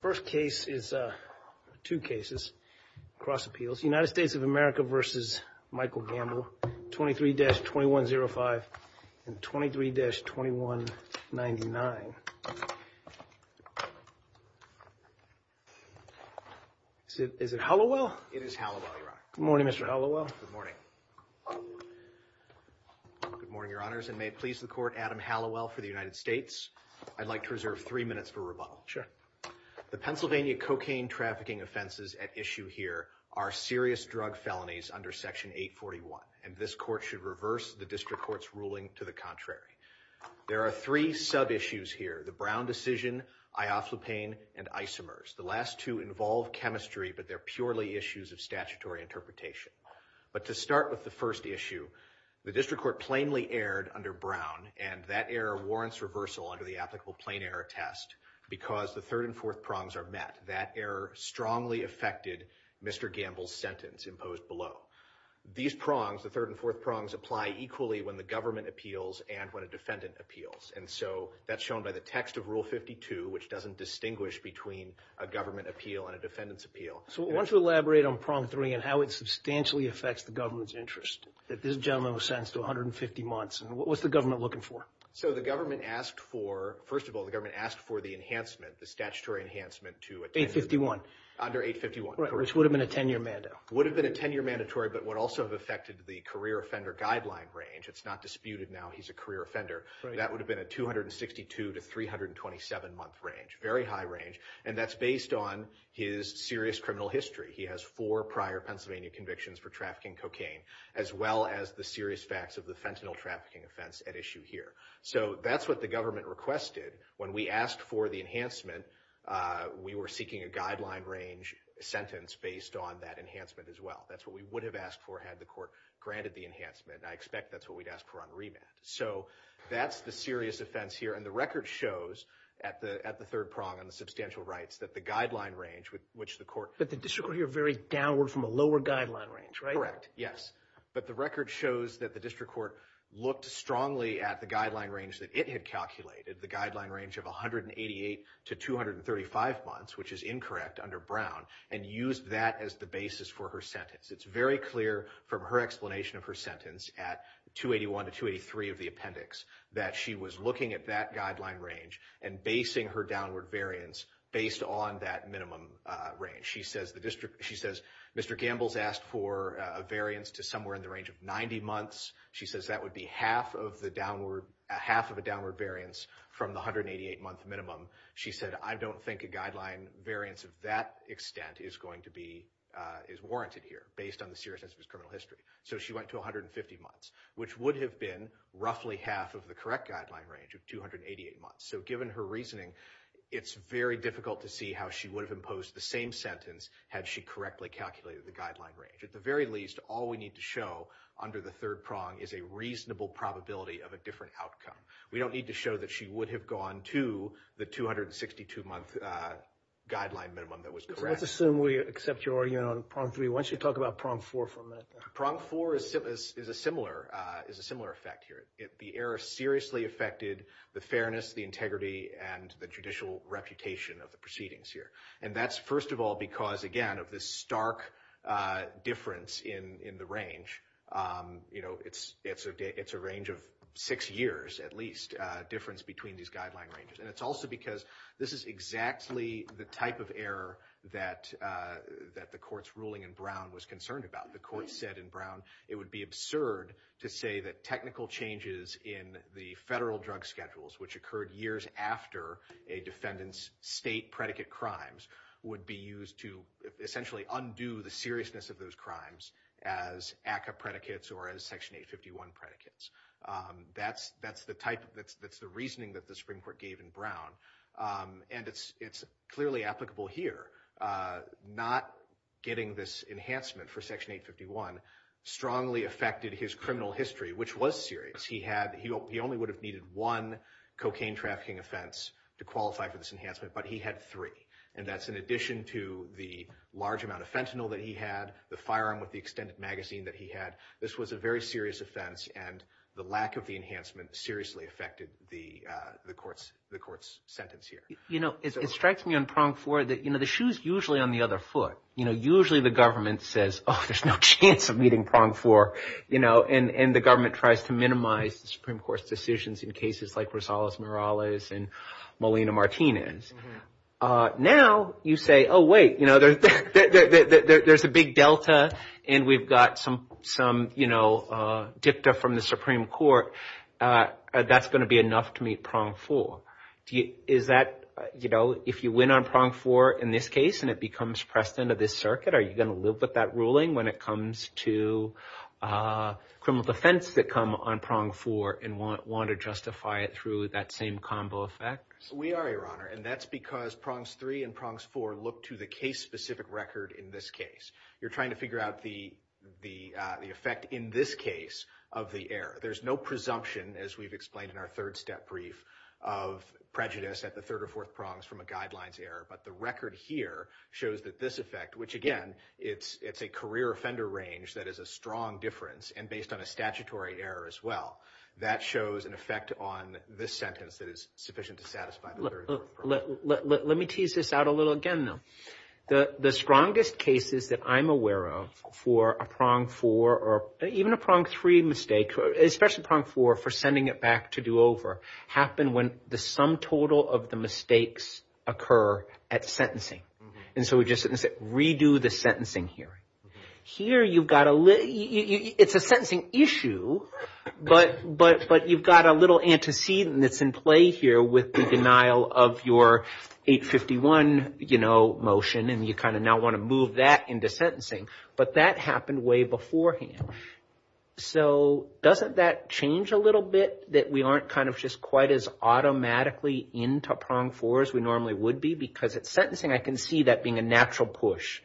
First case is two cases, cross appeals, United States of America versus Michael Gamble, 23-2105 and 23-2199. Is it Hallowell? It is Hallowell, Your Honor. Good morning, Mr. Hallowell. Good morning. Good morning, Your Honors, and may it please the court, Adam Hallowell for the United States. I'd like to reserve three minutes for rebuttal. Sure. The Pennsylvania cocaine trafficking offenses at issue here are serious drug felonies under Section 841, and this court should reverse the district court's ruling to the contrary. There are three sub-issues here, the Brown decision, ioslupane, and isomers. The last two involve chemistry, but they're purely issues of statutory interpretation. But to start with the first issue, the district court plainly erred under Brown, and that error warrants reversal under the applicable plain error test because the third and fourth prongs are met. That error strongly affected Mr. Gamble's sentence imposed below. These prongs, the third and fourth prongs, apply equally when the government appeals and when a defendant appeals, and so that's shown by the text of Rule 52, which doesn't distinguish between a government appeal and a defendant's appeal. So why don't you elaborate on prong three and how it substantially affects the government's interest, that this gentleman was sentenced to 150 months, and what was the government looking for? So the government asked for, first of all, the government asked for the enhancement, the statutory enhancement, to 851. Under 851. Right, which would have been a 10-year mandatory. Would have been a 10-year mandatory, but would also have affected the career offender guideline range. It's not disputed now he's a career offender. That would have been a 262 to 327-month range, very high range, and that's based on his serious criminal history. He has four prior Pennsylvania convictions for trafficking cocaine, as well as the serious facts of the fentanyl trafficking offense at issue here. So that's what the government requested. When we asked for the enhancement, we were seeking a guideline range sentence based on that enhancement as well. That's what we would have asked for had the court granted the enhancement, and I expect that's what we'd ask for on remand. So that's the serious offense here, and the record shows, at the third prong on the substantial rights, that the guideline range, which the court— But the district court here varied downward from a lower guideline range, right? Correct, yes. But the record shows that the district court looked strongly at the guideline range that it had calculated, the guideline range of 188 to 235 months, which is incorrect under Brown, and used that as the basis for her sentence. It's very clear from her explanation of her sentence at 281 to 283 of the appendix that she was looking at that guideline range and basing her downward variance based on that minimum range. She says Mr. Gambles asked for a variance to somewhere in the range of 90 months. She says that would be half of a downward variance from the 188-month minimum. She said I don't think a guideline variance of that extent is going to be—is warranted here based on the seriousness of his criminal history. So she went to 150 months, which would have been roughly half of the correct guideline range of 288 months. So given her reasoning, it's very difficult to see how she would have imposed the same sentence had she correctly calculated the guideline range. At the very least, all we need to show under the third prong is a reasonable probability of a different outcome. We don't need to show that she would have gone to the 262-month guideline minimum that was correct. Let's assume we accept your argument on prong three. Why don't you talk about prong four for a minute? Prong four is a similar effect here. The error seriously affected the fairness, the integrity, and the judicial reputation of the proceedings here. And that's first of all because, again, of this stark difference in the range. It's a range of six years, at least, difference between these guideline ranges. And it's also because this is exactly the type of error that the court's ruling in Brown was concerned about. The court said in Brown it would be absurd to say that technical changes in the federal drug schedules, which occurred years after a defendant's state predicate crimes, would be used to essentially undo the seriousness of those crimes as ACCA predicates or as Section 851 predicates. That's the reasoning that the Supreme Court gave in Brown. And it's clearly applicable here. Not getting this enhancement for Section 851 strongly affected his criminal history, which was serious. He only would have needed one cocaine trafficking offense to qualify for this enhancement, but he had three. And that's in addition to the large amount of fentanyl that he had, the firearm with the extended magazine that he had. This was a very serious offense, and the lack of the enhancement seriously affected the court's sentence here. It strikes me on Prong four that the shoe's usually on the other foot. Usually the government says, oh, there's no chance of meeting Prong four. And the government tries to minimize the Supreme Court's decisions in cases like Rosales-Morales and Molina-Martinez. Now you say, oh, wait, there's a big delta and we've got some dicta from the Supreme Court. That's going to be enough to meet Prong four. Is that, you know, if you win on Prong four in this case and it becomes precedent of this circuit, are you going to live with that ruling when it comes to criminal defense that come on Prong four and want to justify it through that same combo effect? We are, Your Honor, and that's because Prongs three and Prongs four look to the case-specific record in this case. You're trying to figure out the effect in this case of the error. There's no presumption, as we've explained in our third step brief, of prejudice at the third or fourth Prongs from a guidelines error. But the record here shows that this effect, which, again, it's a career offender range that is a strong difference and based on a statutory error as well, that shows an effect on this sentence that is sufficient to satisfy the third or fourth Prong. Let me tease this out a little again, though. The strongest cases that I'm aware of for a Prong four or even a Prong three mistake, especially Prong four for sending it back to do over, happen when the sum total of the mistakes occur at sentencing. And so we just redo the sentencing here. Here you've got a little, it's a sentencing issue, but you've got a little antecedent that's in play here with the denial of your 851 motion and you kind of now want to move that into sentencing, but that happened way beforehand. So doesn't that change a little bit that we aren't kind of just quite as automatically into a Prong four as we normally would be? Because at sentencing I can see that being a natural push.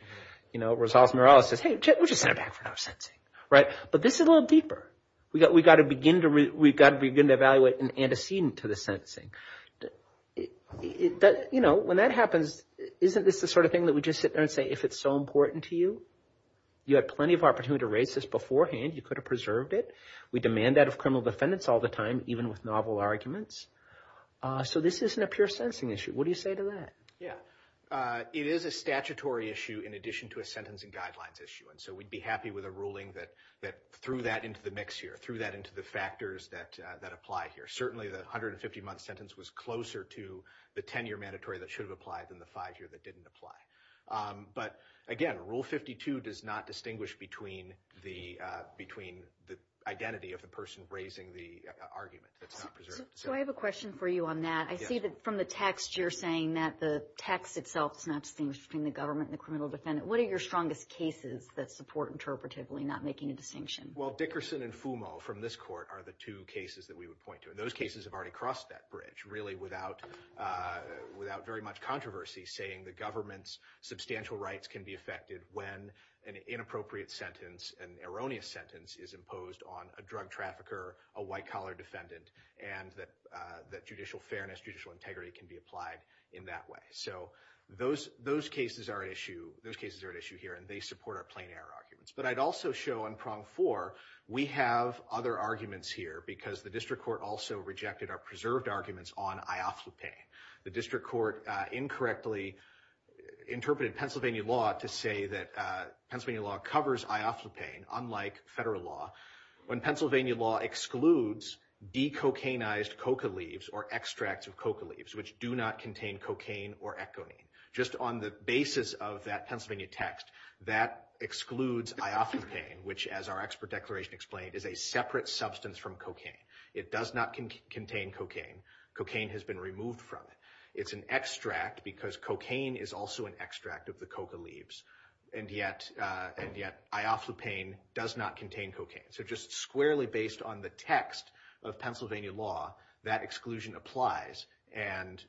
You know, Rosales-Morales says, hey, we'll just send it back for now at sentencing. But this is a little deeper. We've got to begin to evaluate an antecedent to the sentencing. You know, when that happens, isn't this the sort of thing that we just sit there and say, if it's so important to you, you had plenty of opportunity to raise this beforehand, you could have preserved it. We demand that of criminal defendants all the time, even with novel arguments. So this isn't a pure sentencing issue. What do you say to that? Yeah. It is a statutory issue in addition to a sentencing guidelines issue. And so we'd be happy with a ruling that threw that into the mix here, threw that into the factors that apply here. Certainly the 150-month sentence was closer to the 10-year mandatory that should have applied than the five-year that didn't apply. But, again, Rule 52 does not distinguish between the identity of the person raising the argument that's not preserved. So I have a question for you on that. I see that from the text you're saying that the text itself is not distinguished between the government and the criminal defendant. What are your strongest cases that support interpretatively not making a distinction? Well, Dickerson and Fumo from this court are the two cases that we would point to. And those cases have already crossed that bridge, really, without very much controversy, saying the government's substantial rights can be affected when an inappropriate sentence, an erroneous sentence, is imposed on a drug trafficker, a white-collar defendant, and that judicial fairness, judicial integrity can be applied in that way. So those cases are at issue here, and they support our plain-error arguments. But I'd also show on Prong 4, we have other arguments here, because the district court also rejected our preserved arguments on ioflupane. The district court incorrectly interpreted Pennsylvania law to say that Pennsylvania law covers ioflupane, unlike federal law, when Pennsylvania law excludes decocanized coca leaves or extracts of coca leaves, which do not contain cocaine or echonine. Just on the basis of that Pennsylvania text, that excludes ioflupane, which, as our expert declaration explained, is a separate substance from cocaine. It does not contain cocaine. Cocaine has been removed from it. It's an extract because cocaine is also an extract of the coca leaves, and yet ioflupane does not contain cocaine. So just squarely based on the text of Pennsylvania law, that exclusion applies, and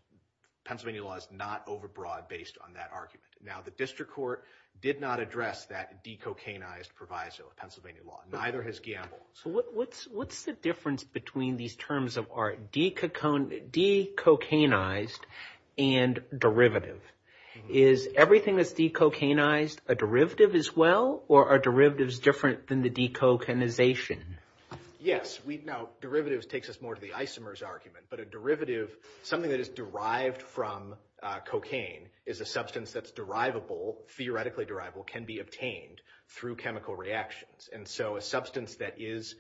Pennsylvania law is not overbroad based on that argument. Now, the district court did not address that decocanized proviso of Pennsylvania law. Neither has Gamble. So what's the difference between these terms of our decocanized and derivative? Is everything that's decocanized a derivative as well, or are derivatives different than the decocanization? Yes. Now, derivatives takes us more to the isomers argument, but a derivative, something that is derived from cocaine is a substance that's derivable, theoretically derivable, can be obtained through chemical reactions. And so a substance that is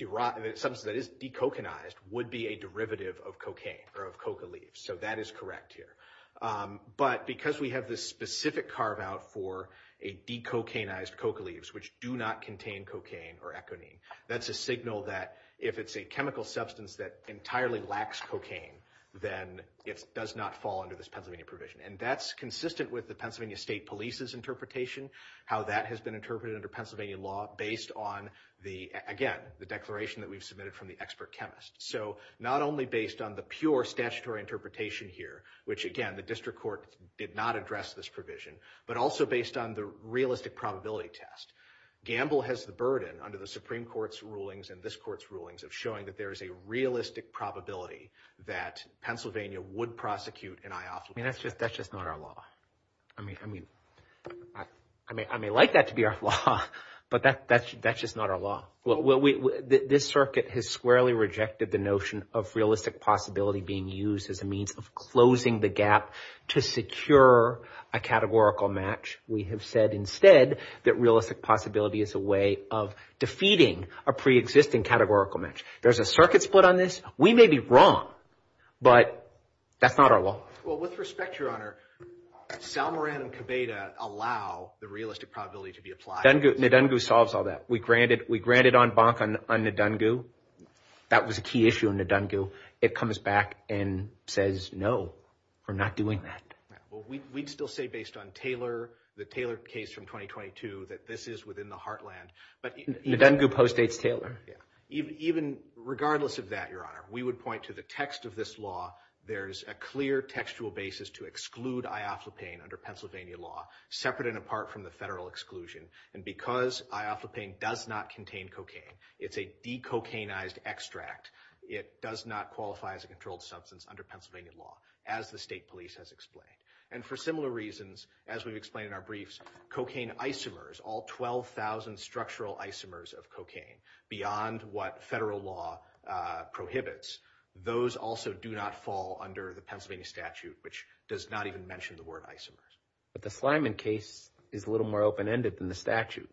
decocanized would be a derivative of cocaine or of coca leaves. So that is correct here. But because we have this specific carve out for a decocanized coca leaves, which do not contain cocaine or econeme, that's a signal that if it's a chemical substance that entirely lacks cocaine, then it does not fall under this Pennsylvania provision. And that's consistent with the Pennsylvania State Police's interpretation, how that has been interpreted under Pennsylvania law based on the, again, the declaration that we've submitted from the expert chemist. So not only based on the pure statutory interpretation here, which, again, the district court did not address this provision, but also based on the realistic probability test. Gamble has the burden under the Supreme Court's rulings and this court's rulings of showing that there is a realistic probability that Pennsylvania would prosecute an eye off. I mean, that's just that's just not our law. I mean, I mean, I mean, I may like that to be our law, but that that's that's just not our law. Well, this circuit has squarely rejected the notion of realistic possibility being used as a means of closing the gap to secure a categorical match. We have said instead that realistic possibility is a way of defeating a preexisting categorical match. There's a circuit split on this. We may be wrong, but that's not our law. Well, with respect, Your Honor, Sal Moran and Cabeda allow the realistic probability to be applied. Ndungu solves all that. We granted we granted on bonk on Ndungu. That was a key issue in Ndungu. It comes back and says, no, we're not doing that. Well, we'd still say based on Taylor, the Taylor case from 2022, that this is within the heartland. But Ndungu postdates Taylor. Yeah. Even regardless of that, Your Honor, we would point to the text of this law. There's a clear textual basis to exclude ioflopane under Pennsylvania law, separate and apart from the federal exclusion. And because ioflopane does not contain cocaine, it's a decocaine eyed extract. It does not qualify as a controlled substance under Pennsylvania law, as the state police has explained. And for similar reasons, as we've explained in our briefs, cocaine isomers, all 12000 structural isomers of cocaine beyond what federal law prohibits. Those also do not fall under the Pennsylvania statute, which does not even mention the word isomers. But the Slyman case is a little more open ended than the statute.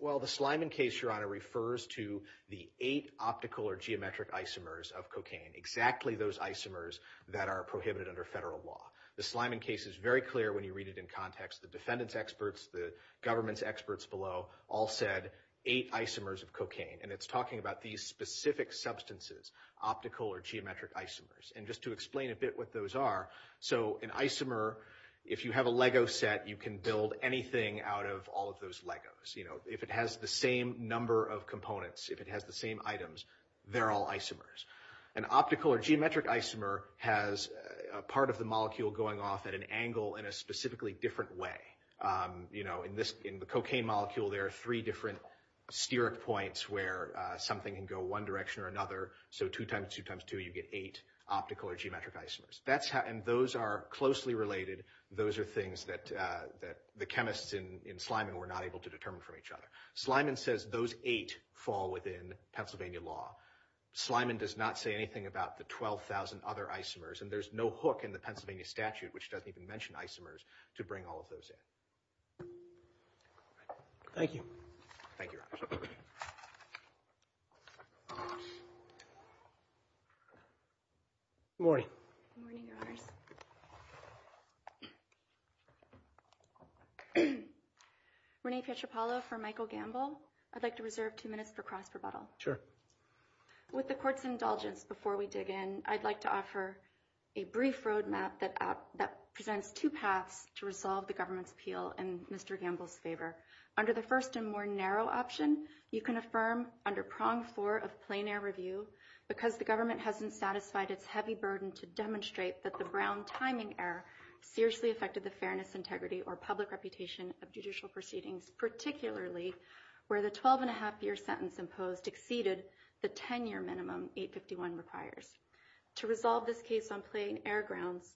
Well, the Slyman case, Your Honor, refers to the eight optical or geometric isomers of cocaine. Exactly those isomers that are prohibited under federal law. The Slyman case is very clear when you read it in context. The defendant's experts, the government's experts below all said eight isomers of cocaine. And it's talking about these specific substances, optical or geometric isomers. And just to explain a bit what those are. So an isomer, if you have a Lego set, you can build anything out of all of those Legos. You know, if it has the same number of components, if it has the same items, they're all isomers. An optical or geometric isomer has part of the molecule going off at an angle in a specifically different way. You know, in the cocaine molecule, there are three different steric points where something can go one direction or another. So two times two times two, you get eight optical or geometric isomers. And those are closely related. Those are things that the chemists in Slyman were not able to determine from each other. Slyman says those eight fall within Pennsylvania law. Slyman does not say anything about the 12,000 other isomers. And there's no hook in the Pennsylvania statute, which doesn't even mention isomers, to bring all of those in. Thank you. Thank you, Your Honor. Good morning. Good morning, Your Honors. Renee Pietropalo for Michael Gamble. I'd like to reserve two minutes for cross rebuttal. Sure. With the court's indulgence, before we dig in, I'd like to offer a brief roadmap that presents two paths to resolve the government's appeal in Mr. Gamble's favor. Under the first and more narrow option, you can affirm under prong four of plein air review, because the government hasn't satisfied its heavy burden to demonstrate that the Brown timing error seriously affected the fairness, integrity, or public reputation of judicial proceedings, particularly where the 12-and-a-half-year sentence imposed exceeded the 10-year minimum 851 requires. To resolve this case on plein air grounds,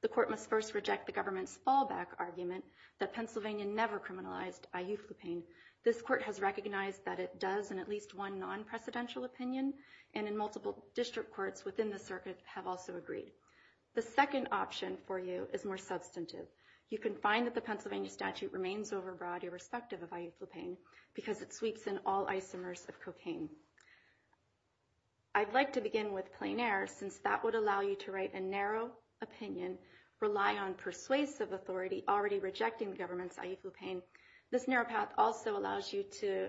the court must first reject the government's fallback argument that Pennsylvania never criminalized IU Fluepane. This court has recognized that it does in at least one non-presidential opinion, and in multiple district courts within the circuit have also agreed. The second option for you is more substantive. You can find that the Pennsylvania statute remains overbroad irrespective of IU Fluepane, because it sweeps in all isomers of cocaine. I'd like to begin with plein air, since that would allow you to write a narrow opinion, rely on persuasive authority already rejecting the government's IU Fluepane. This narrow path also allows you to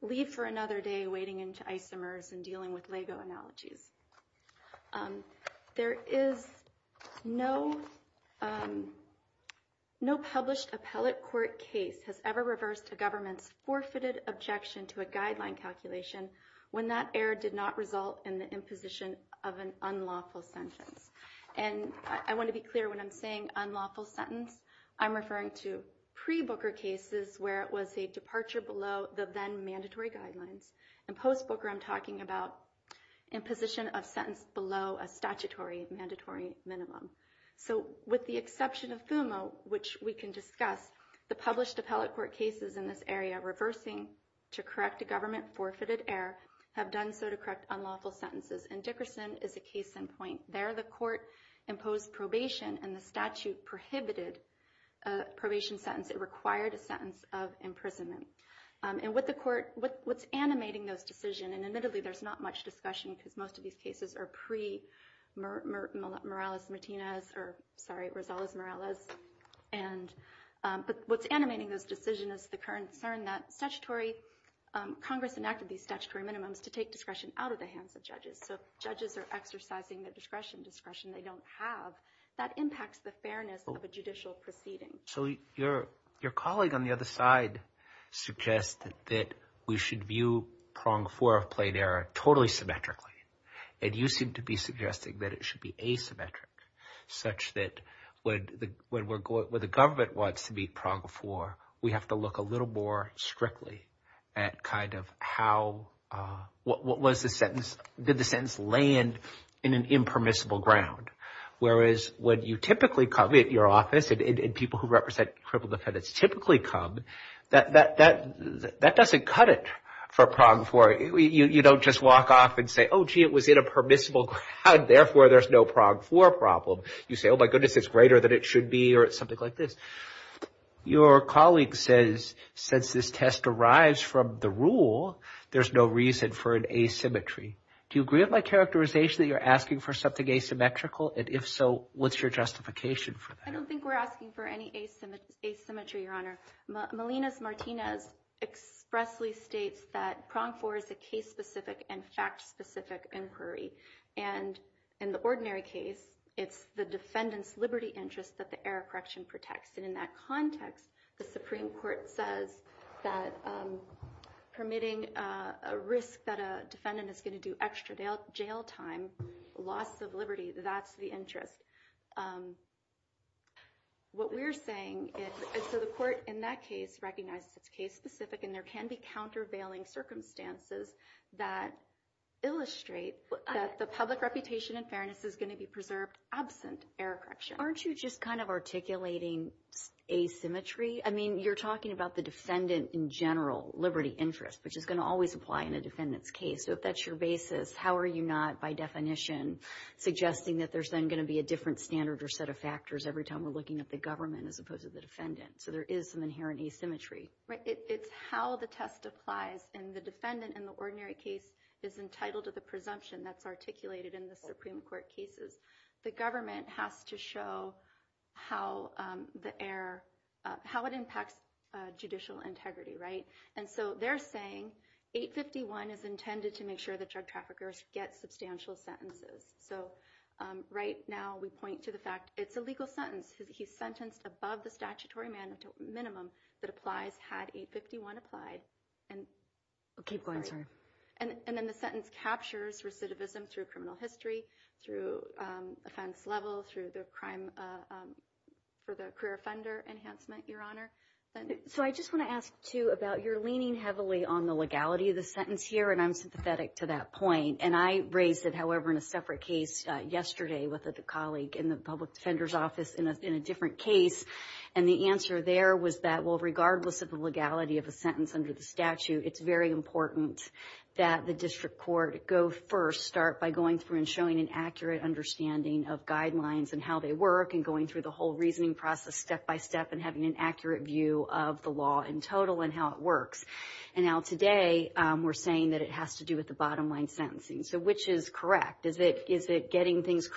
leave for another day wading into isomers and dealing with Lego analogies. There is no published appellate court case has ever reversed a government's forfeited objection to a guideline calculation when that error did not result in the imposition of an unlawful sentence. And I want to be clear when I'm saying unlawful sentence. I'm referring to pre-Booker cases where it was a departure below the then mandatory guidelines. In post-Booker, I'm talking about imposition of sentence below a statutory mandatory minimum. So with the exception of FUMA, which we can discuss, the published appellate court cases in this area reversing to correct a government forfeited error have done so to correct unlawful sentences. And Dickerson is a case in point. There, the court imposed probation and the statute prohibited a probation sentence. It required a sentence of imprisonment. And with the court, what's animating those decision, and admittedly, there's not much discussion because most of these cases are pre-Morales-Martinez or, sorry, Rosales-Morales. And but what's animating those decision is the current concern that statutory Congress enacted these statutory minimums to take discretion out of the hands of judges. So judges are exercising their discretion, discretion they don't have. That impacts the fairness of a judicial proceeding. So your colleague on the other side suggested that we should view prong four of plain error totally symmetrically. And you seem to be suggesting that it should be asymmetric such that when the government wants to meet prong four, we have to look a little more strictly at kind of how – what was the sentence? Did the sentence land in an impermissible ground? Whereas when you typically come at your office and people who represent crippled defendants typically come, that doesn't cut it for prong four. You don't just walk off and say, oh, gee, it was in a permissible ground. Therefore, there's no prong four problem. You say, oh, my goodness, it's greater than it should be or something like this. Your colleague says since this test arrives from the rule, there's no reason for an asymmetry. Do you agree with my characterization that you're asking for something asymmetrical? And if so, what's your justification for that? I don't think we're asking for any asymmetry, Your Honor. Melinas Martinez expressly states that prong four is a case-specific and fact-specific inquiry. And in the ordinary case, it's the defendant's liberty interest that the error correction protects. And in that context, the Supreme Court says that permitting a risk that a defendant is going to do extra jail time, loss of liberty, that's the interest. What we're saying is – so the court in that case recognizes it's case-specific, and there can be countervailing circumstances that illustrate that the public reputation and fairness is going to be preserved absent error correction. And aren't you just kind of articulating asymmetry? I mean, you're talking about the defendant in general, liberty interest, which is going to always apply in a defendant's case. So if that's your basis, how are you not by definition suggesting that there's then going to be a different standard or set of factors every time we're looking at the government as opposed to the defendant? So there is some inherent asymmetry. It's how the test applies. And the defendant in the ordinary case is entitled to the presumption that's articulated in the Supreme Court cases. The government has to show how the error – how it impacts judicial integrity, right? And so they're saying 851 is intended to make sure that drug traffickers get substantial sentences. So right now we point to the fact it's a legal sentence. He's sentenced above the statutory minimum that applies had 851 applied. Keep going, sorry. And then the sentence captures recidivism through criminal history, through offense level, through the crime for the career offender enhancement, Your Honor. So I just want to ask, too, about you're leaning heavily on the legality of the sentence here, and I'm sympathetic to that point. And I raised it, however, in a separate case yesterday with a colleague in the public defender's office in a different case. And the answer there was that, well, regardless of the legality of a sentence under the statute, it's very important that the district court go first, start by going through and showing an accurate understanding of guidelines and how they work and going through the whole reasoning process step by step and having an accurate view of the law in total and how it works. And now today we're saying that it has to do with the bottom line sentencing. So which is correct? Is it getting things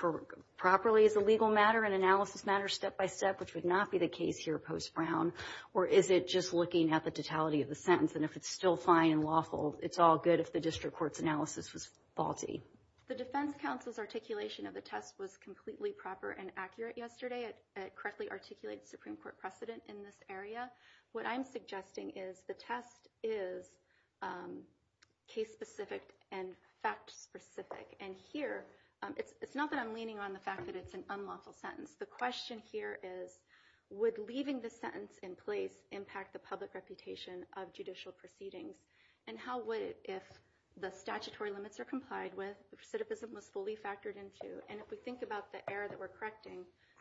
properly as a legal matter, an analysis matter, step by step, which would not be the case here post-Brown, or is it just looking at the totality of the sentence? And if it's still fine and lawful, it's all good if the district court's analysis was faulty. The defense counsel's articulation of the test was completely proper and accurate yesterday. It correctly articulated the Supreme Court precedent in this area. What I'm suggesting is the test is case-specific and fact-specific. And here it's not that I'm leaning on the fact that it's an unlawful sentence. The question here is would leaving the sentence in place impact the public reputation of judicial proceedings? And how would it if the statutory limits are complied with, the recidivism was fully factored into, and if we think about the error that we're correcting,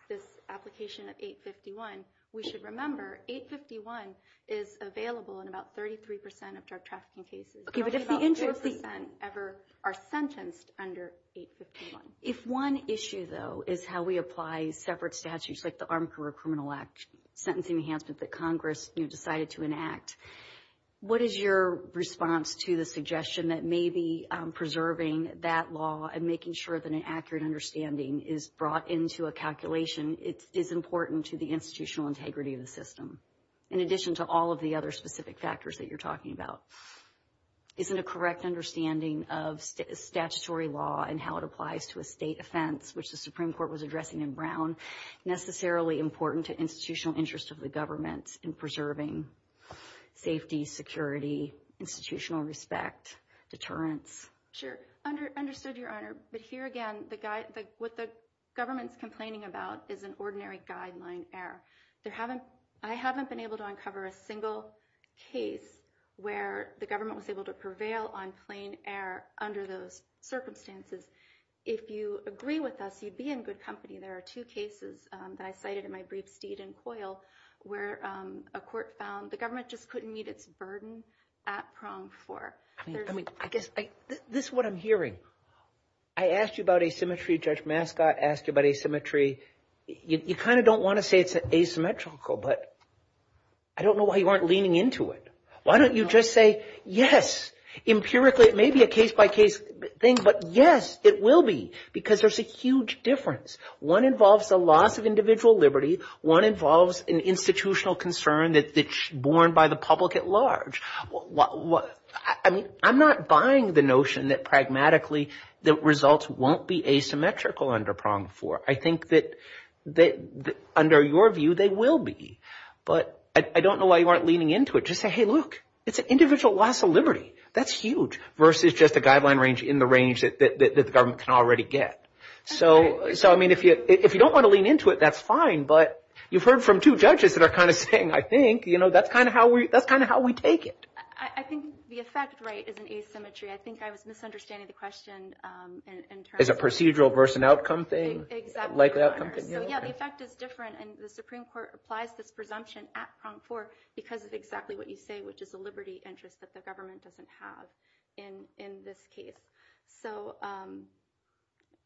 this application of 851, we should remember 851 is available in about 33% of drug trafficking cases. Only about 4% ever are sentenced under 851. If one issue, though, is how we apply separate statutes like the Armed Career Criminal Act, sentencing enhancement that Congress decided to enact, what is your response to the suggestion that maybe preserving that law and making sure that an accurate understanding is brought into a calculation is important to the institutional integrity of the system, in addition to all of the other specific factors that you're talking about? Isn't a correct understanding of statutory law and how it applies to a state offense, which the Supreme Court was addressing in Brown, necessarily important to institutional interest of the government in preserving safety, security, institutional respect, deterrence? Sure. Understood, Your Honor. But here again, what the government's complaining about is an ordinary guideline error. I haven't been able to uncover a single case where the government was able to prevail on plain error under those circumstances. If you agree with us, you'd be in good company. There are two cases that I cited in my briefs, Deed and Coyle, where a court found the government just couldn't meet its burden at prong four. I mean, I guess this is what I'm hearing. I asked you about asymmetry. Judge Mascot asked you about asymmetry. You kind of don't want to say it's asymmetrical, but I don't know why you aren't leaning into it. Why don't you just say, yes, empirically it may be a case-by-case thing, but yes, it will be because there's a huge difference. One involves the loss of individual liberty. One involves an institutional concern that's borne by the public at large. I mean, I'm not buying the notion that pragmatically the results won't be asymmetrical under prong four. I think that under your view they will be. But I don't know why you aren't leaning into it. Just say, hey, look, it's an individual loss of liberty. That's huge versus just a guideline range in the range that the government can already get. So, I mean, if you don't want to lean into it, that's fine. But you've heard from two judges that are kind of saying, I think, you know, that's kind of how we take it. I think the effect rate is an asymmetry. I think I was misunderstanding the question. It's a procedural versus an outcome thing? Exactly, Your Honor. So, yeah, the effect is different, and the Supreme Court applies this presumption at prong four because of exactly what you say, which is a liberty interest that the government doesn't have in this case. So,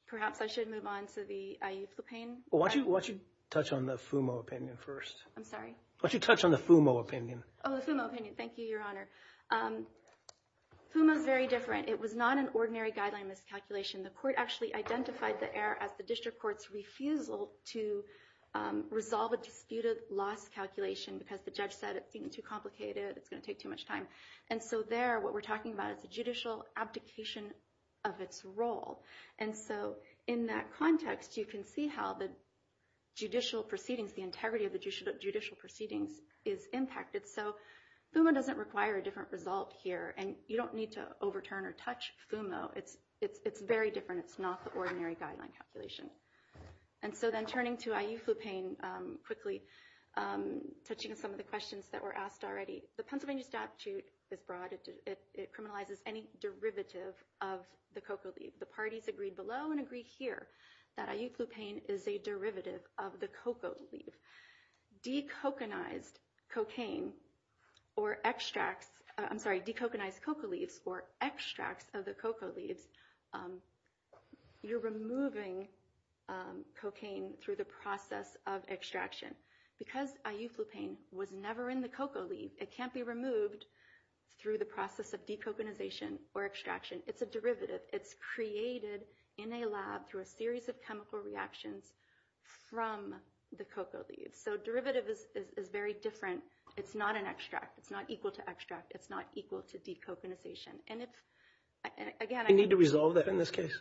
perhaps I should move on to the IE plupain. Why don't you touch on the FUMO opinion first? I'm sorry? Why don't you touch on the FUMO opinion? Oh, the FUMO opinion. Thank you, Your Honor. FUMO is very different. It was not an ordinary guideline miscalculation. The court actually identified the error as the district court's refusal to resolve a disputed loss calculation because the judge said it seemed too complicated, it's going to take too much time. And so there, what we're talking about is a judicial abdication of its role. And so in that context, you can see how the judicial proceedings, the integrity of the judicial proceedings is impacted. So FUMO doesn't require a different result here, and you don't need to overturn or touch FUMO. It's very different. It's not the ordinary guideline calculation. And so then turning to IE plupain quickly, touching on some of the questions that were asked already. The Pennsylvania statute is broad. It criminalizes any derivative of the cocoa leaf. The parties agreed below and agree here that IE plupain is a derivative of the cocoa leaf. Decoconized cocaine or extracts, I'm sorry, decoconized cocoa leaves or extracts of the cocoa leaves, you're removing cocaine through the process of extraction. Because IE plupain was never in the cocoa leaf, it can't be removed through the process of decoconization or extraction. It's a derivative. It's created in a lab through a series of chemical reactions from the cocoa leaves. So derivative is very different. It's not an extract. It's not equal to extract. It's not equal to decoconization. And again, I need to resolve that in this case.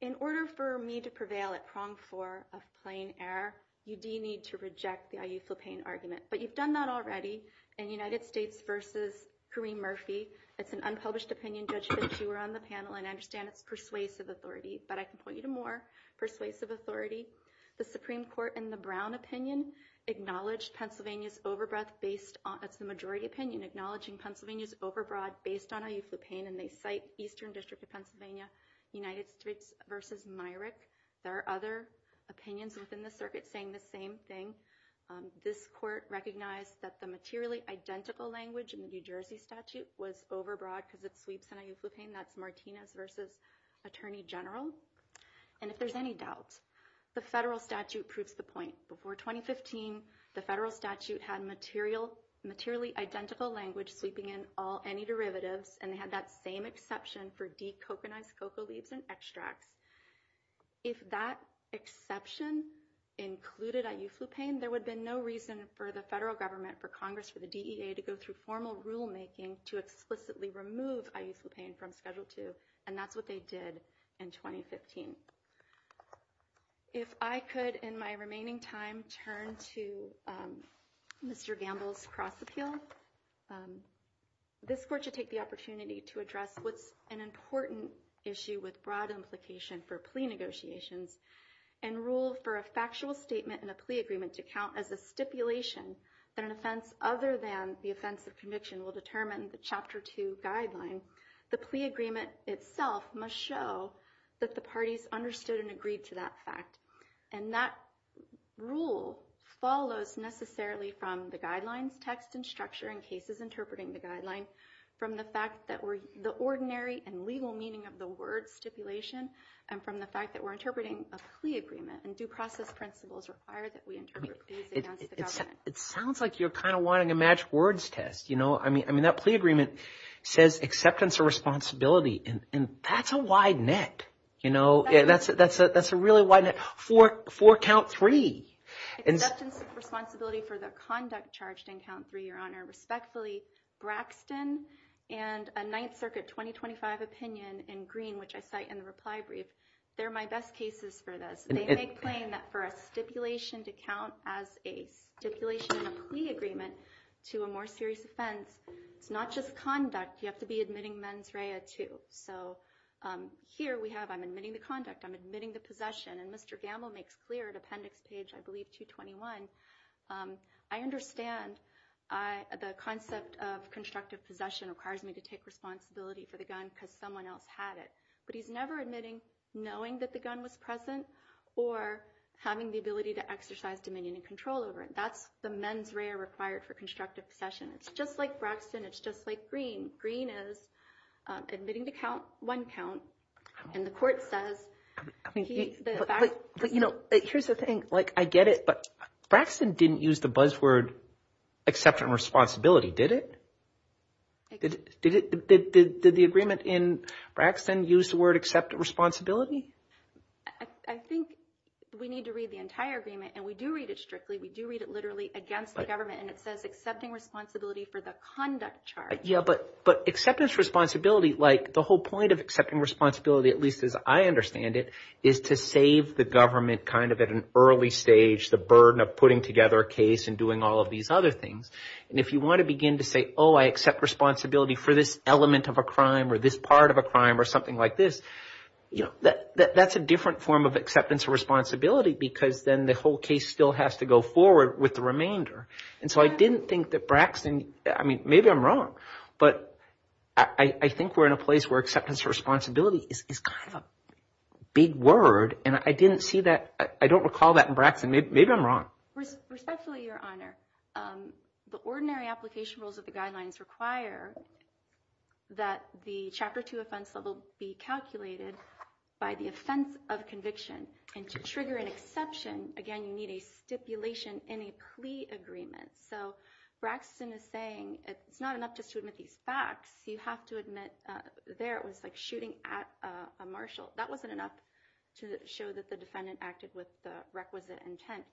In order for me to prevail at prong four of plain error, you do need to reject the IE plupain argument. But you've done that already in United States versus Kareem Murphy. It's an unpublished opinion, Judge Fitzhugh, on the panel. And I understand it's persuasive authority. But I can point you to more persuasive authority. The Supreme Court, in the Brown opinion, acknowledged Pennsylvania's overbreath based on the majority opinion, acknowledging Pennsylvania's overbroad based on IE plupain. And they cite Eastern District of Pennsylvania, United States versus Myrick. There are other opinions within the circuit saying the same thing. This court recognized that the materially identical language in the New Jersey statute was overbroad because it sweeps in IE plupain. That's Martinez versus Attorney General. And if there's any doubt, the federal statute proves the point. Before 2015, the federal statute had materially identical language sweeping in any derivatives. And they had that same exception for decoconized cocoa leaves and extracts. If that exception included IE plupain, there would have been no reason for the federal government, for Congress, for the DEA to go through formal rulemaking to explicitly remove IE plupain from Schedule 2. And that's what they did in 2015. If I could, in my remaining time, turn to Mr. Gamble's cross appeal, this court should take the opportunity to address what's an important issue with broad implication for plea negotiations and rule for a factual statement in a plea agreement to count as a stipulation that an offense other than the offense of conviction will determine the Chapter 2 guideline. The plea agreement itself must show that the parties understood and agreed to that fact. And that rule follows necessarily from the guidelines, text, and structure in cases interpreting the guideline, from the fact that the ordinary and legal meaning of the word stipulation, and from the fact that we're interpreting a plea agreement. And due process principles require that we interpret these against the government. It sounds like you're kind of wanting a match words test. I mean, that plea agreement says acceptance or responsibility. And that's a wide net. You know, that's a really wide net. For count three. Acceptance or responsibility for the conduct charged in count three, Your Honor. Respectfully, Braxton and a Ninth Circuit 2025 opinion in green, which I cite in the reply brief, they're my best cases for this. They make plain that for a stipulation to count as a stipulation in a plea agreement to a more serious offense, it's not just conduct, you have to be admitting mens rea too. So here we have I'm admitting the conduct, I'm admitting the possession. And Mr. Gamble makes clear at appendix page, I believe, 221. I understand the concept of constructive possession requires me to take responsibility for the gun because someone else had it. But he's never admitting knowing that the gun was present or having the ability to exercise dominion and control over it. That's the mens rea required for constructive possession. It's just like Braxton. It's just like green. Green is admitting to count one count. And the court says. You know, here's the thing. Like, I get it. But Braxton didn't use the buzzword acceptance responsibility, did it? Did it did the agreement in Braxton use the word acceptance responsibility? I think we need to read the entire agreement and we do read it strictly. We do read it literally against the government. And it says accepting responsibility for the conduct charge. Yeah, but but acceptance responsibility, like the whole point of accepting responsibility, at least as I understand it, is to save the government kind of at an early stage, the burden of putting together a case and doing all of these other things. And if you want to begin to say, oh, I accept responsibility for this element of a crime or this part of a crime or something like this, that's a different form of acceptance of responsibility because then the whole case still has to go forward with the remainder. And so I didn't think that Braxton. I mean, maybe I'm wrong, but I think we're in a place where acceptance of responsibility is kind of a big word. And I didn't see that. I don't recall that in Braxton. Maybe I'm wrong. Respectfully, Your Honor. The ordinary application rules of the guidelines require that the chapter two offense level be calculated by the offense of conviction. And to trigger an exception, again, you need a stipulation in a plea agreement. So Braxton is saying it's not enough just to admit these facts. You have to admit there it was like shooting at a marshal. That wasn't enough to show that the defendant acted with the requisite intent.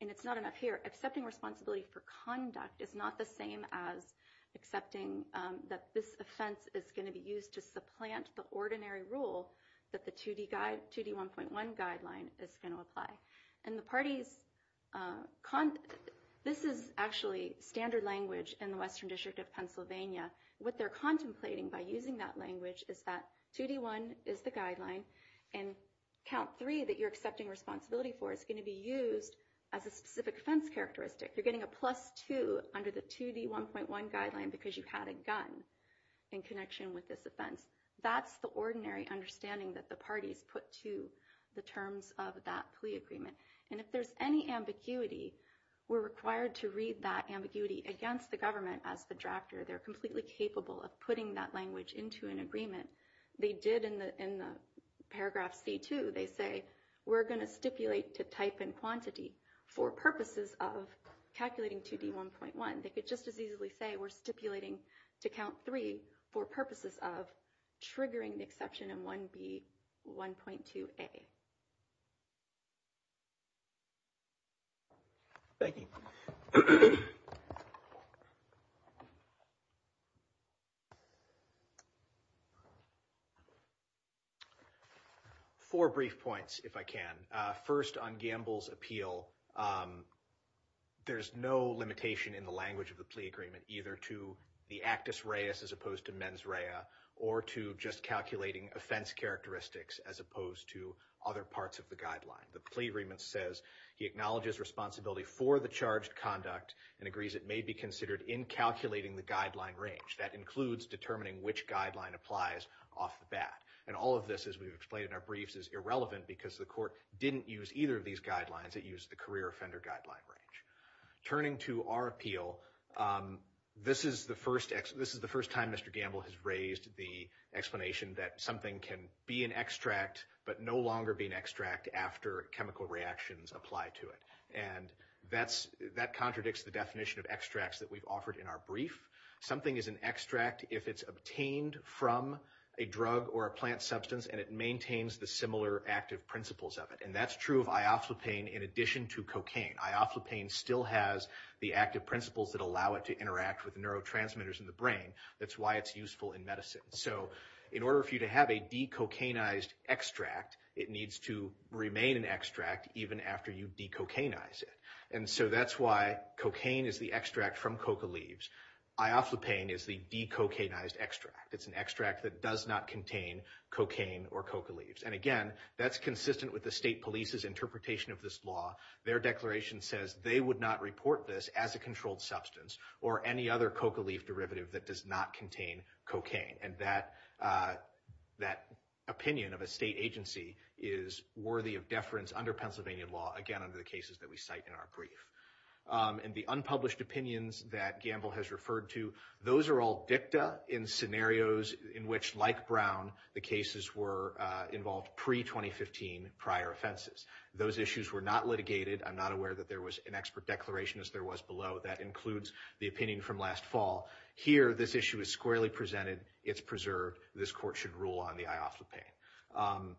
And it's not enough here. Accepting responsibility for conduct is not the same as accepting that this offense is going to be used to supplant the ordinary rule that the 2D 1.1 guideline is going to apply. And the parties, this is actually standard language in the Western District of Pennsylvania. What they're contemplating by using that language is that 2D1 is the guideline and count three that you're accepting responsibility for is going to be used as a specific offense characteristic. You're getting a plus two under the 2D1.1 guideline because you had a gun in connection with this offense. That's the ordinary understanding that the parties put to the terms of that plea agreement. And if there's any ambiguity, we're required to read that ambiguity against the government as the drafter. They're completely capable of putting that language into an agreement. They did in the paragraph C2, they say, we're going to stipulate to type in quantity for purposes of calculating 2D1.1. They could just as easily say, we're stipulating to count three for purposes of triggering the exception in 1B1.2A. Thank you. Four brief points, if I can. First, on Gamble's appeal, there's no limitation in the language of the plea agreement either to the actus reus as opposed to mens rea or to just calculating offense characteristics as opposed to other parts of the guideline. The plea agreement says he acknowledges responsibility for the charged conduct and agrees it may be considered in calculating the guideline range. That includes determining which guideline applies off the bat. And all of this, as we've explained in our briefs, is irrelevant because the court didn't use either of these guidelines. It used the career offender guideline range. Turning to our appeal, this is the first time Mr. Gamble has raised the explanation that something can be an extract but no longer be an extract after chemical reactions apply to it. And that contradicts the definition of extracts that we've offered in our brief. Something is an extract if it's obtained from a drug or a plant substance and it maintains the similar active principles of it. And that's true of Ioflopane in addition to cocaine. Ioflopane still has the active principles that allow it to interact with neurotransmitters in the brain. That's why it's useful in medicine. So in order for you to have a decocainized extract, it needs to remain an extract even after you decocainize it. And so that's why cocaine is the extract from coca leaves. Ioflopane is the decocainized extract. It's an extract that does not contain cocaine or coca leaves. And again, that's consistent with the state police's interpretation of this law. Their declaration says they would not report this as a controlled substance or any other coca leaf derivative that does not contain cocaine. And that opinion of a state agency is worthy of deference under Pennsylvania law, again, under the cases that we cite in our brief. And the unpublished opinions that Gamble has referred to, those are all dicta in scenarios in which, like Brown, the cases were involved pre-2015 prior offenses. Those issues were not litigated. I'm not aware that there was an expert declaration as there was below. That includes the opinion from last fall. Here, this issue is squarely presented. It's preserved. This court should rule on the Ioflopane.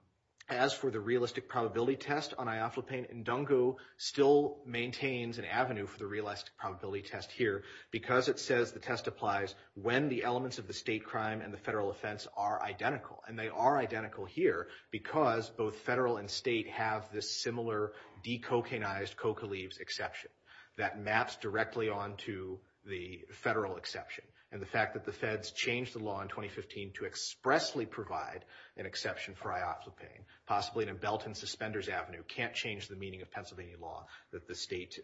As for the realistic probability test on Ioflopane, Ndungu still maintains an avenue for the realistic probability test here because it says the test applies when the elements of the state crime and the federal offense are identical. And they are identical here because both federal and state have this similar decocainized coca leaves exception that maps directly onto the federal exception. And the fact that the feds changed the law in 2015 to expressly provide an exception for Ioflopane, possibly in a belt and suspenders avenue, can't change the meaning of Pennsylvania law that the state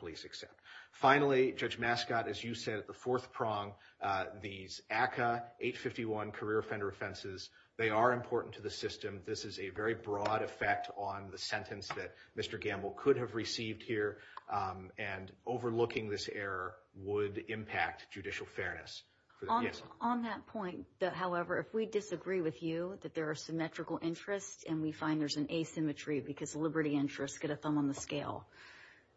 police accept. Finally, Judge Mascott, as you said, at the fourth prong, these ACCA 851 career offender offenses, they are important to the system. This is a very broad effect on the sentence that Mr. Gamble could have received here. And overlooking this error would impact judicial fairness. On that point, however, if we disagree with you that there are symmetrical interests and we find there's an asymmetry because liberty interests get a thumb on the scale,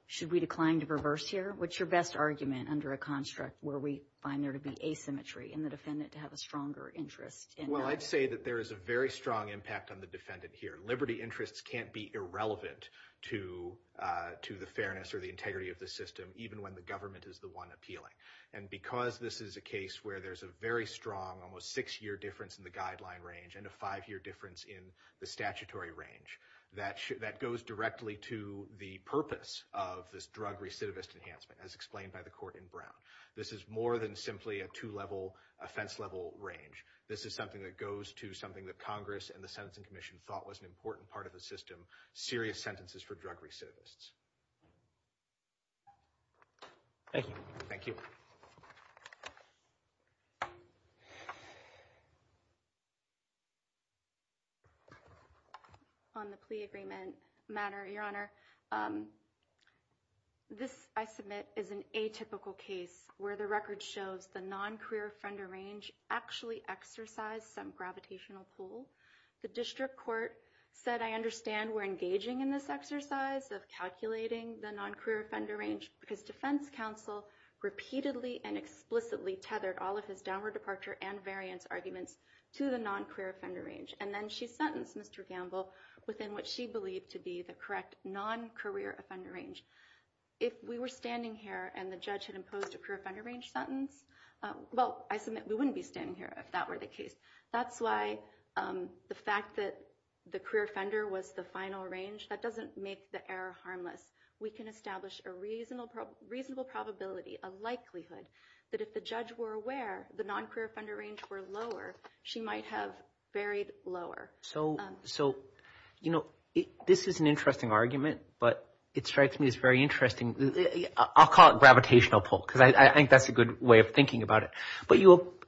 should we decline to reverse here? What's your best argument under a construct where we find there to be asymmetry in the defendant to have a stronger interest? Well, I'd say that there is a very strong impact on the defendant here. Liberty interests can't be irrelevant to the fairness or the integrity of the system, even when the government is the one appealing. And because this is a case where there's a very strong, almost six-year difference in the guideline range and a five-year difference in the statutory range, that goes directly to the purpose of this drug recidivist enhancement, as explained by the court in Brown. This is more than simply a two-level offense level range. This is something that goes to something that Congress and the Sentencing Commission thought was an important part of the system, serious sentences for drug recidivists. Thank you. Thank you. On the plea agreement matter, Your Honor, this, I submit, is an atypical case where the record shows the non-career offender range actually exercised some gravitational pull. The district court said, I understand we're engaging in this exercise of calculating the non-career offender range because defense counsel repeatedly and explicitly tethered all of his downward departure and variance arguments to the non-career offender range. And then she sentenced Mr. Gamble within what she believed to be the correct non-career offender range. If we were standing here and the judge had imposed a career offender range sentence, well, I submit we wouldn't be standing here if that were the case. That's why the fact that the career offender was the final range, that doesn't make the error harmless. We can establish a reasonable probability, a likelihood, that if the judge were aware the non-career offender range were lower, she might have buried lower. So, you know, this is an interesting argument, but it strikes me as very interesting. I'll call it gravitational pull because I think that's a good way of thinking about it. But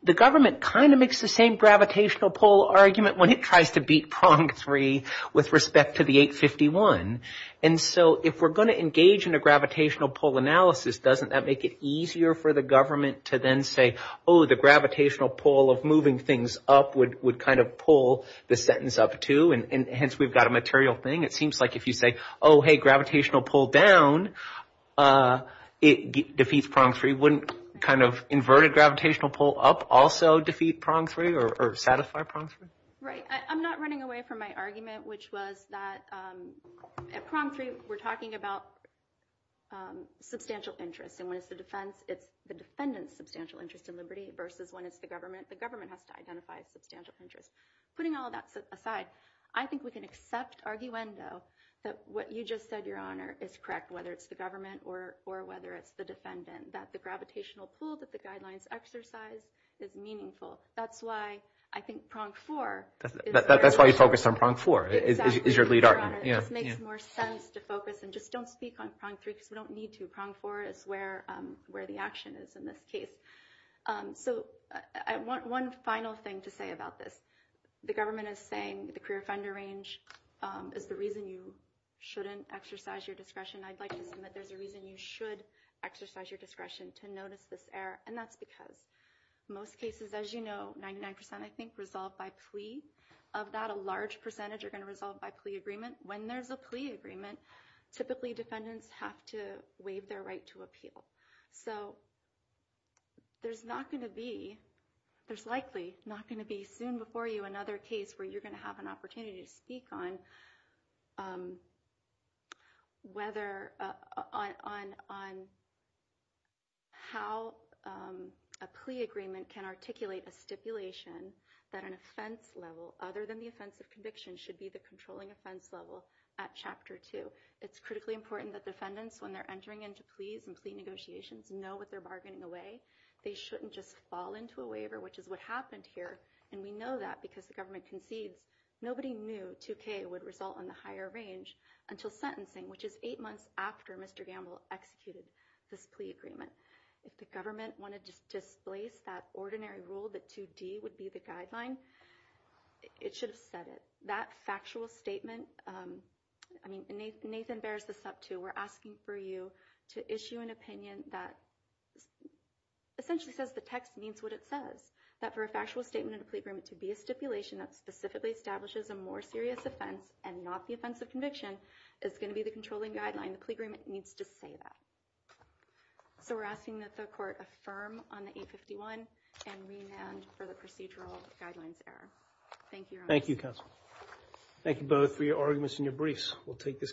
the government kind of makes the same gravitational pull argument when it tries to beat prong three with respect to the 851. And so if we're going to engage in a gravitational pull analysis, doesn't that make it easier for the government to then say, oh, the gravitational pull of moving things up would kind of pull the sentence up, too? And hence, we've got a material thing. It seems like if you say, oh, hey, gravitational pull down, it defeats prong three. Wouldn't kind of inverted gravitational pull up also defeat prong three or satisfy prong three? Right. I'm not running away from my argument, which was that at prong three, we're talking about substantial interest. And when it's the defense, it's the defendant's substantial interest in liberty versus when it's the government. The government has to identify substantial interest. Putting all that aside, I think we can accept arguendo that what you just said, Your Honor, is correct, whether it's the government or whether it's the defendant, that the gravitational pull that the guidelines exercise is meaningful. That's why I think prong four is the right answer. That's why you focused on prong four is your lead argument. Exactly, Your Honor. It just makes more sense to focus and just don't speak on prong three because we don't need to. Prong four is where the action is in this case. So one final thing to say about this, the government is saying the career offender range is the reason you shouldn't exercise your discretion. I'd like to submit there's a reason you should exercise your discretion to notice this error. And that's because most cases, as you know, 99 percent, I think, resolve by plea. Of that, a large percentage are going to resolve by plea agreement. When there's a plea agreement, typically defendants have to waive their right to appeal. So there's likely not going to be soon before you another case where you're going to have an opportunity to speak on how a plea agreement can articulate a stipulation that an offense level, other than the offense of conviction, should be the controlling offense level at chapter two. So it's critically important that defendants, when they're entering into pleas and plea negotiations, know what they're bargaining away. They shouldn't just fall into a waiver, which is what happened here. And we know that because the government concedes nobody knew 2K would result in the higher range until sentencing, which is eight months after Mr. Gamble executed this plea agreement. If the government wanted to displace that ordinary rule that 2D would be the guideline, it should have said it. That factual statement, I mean, Nathan bears this up, too. We're asking for you to issue an opinion that essentially says the text means what it says. That for a factual statement in a plea agreement to be a stipulation that specifically establishes a more serious offense and not the offense of conviction is going to be the controlling guideline. The plea agreement needs to say that. So we're asking that the court affirm on the 851 and rename for the procedural guidelines error. Thank you. Thank you. Thank you both for your arguments and your briefs. We'll take this.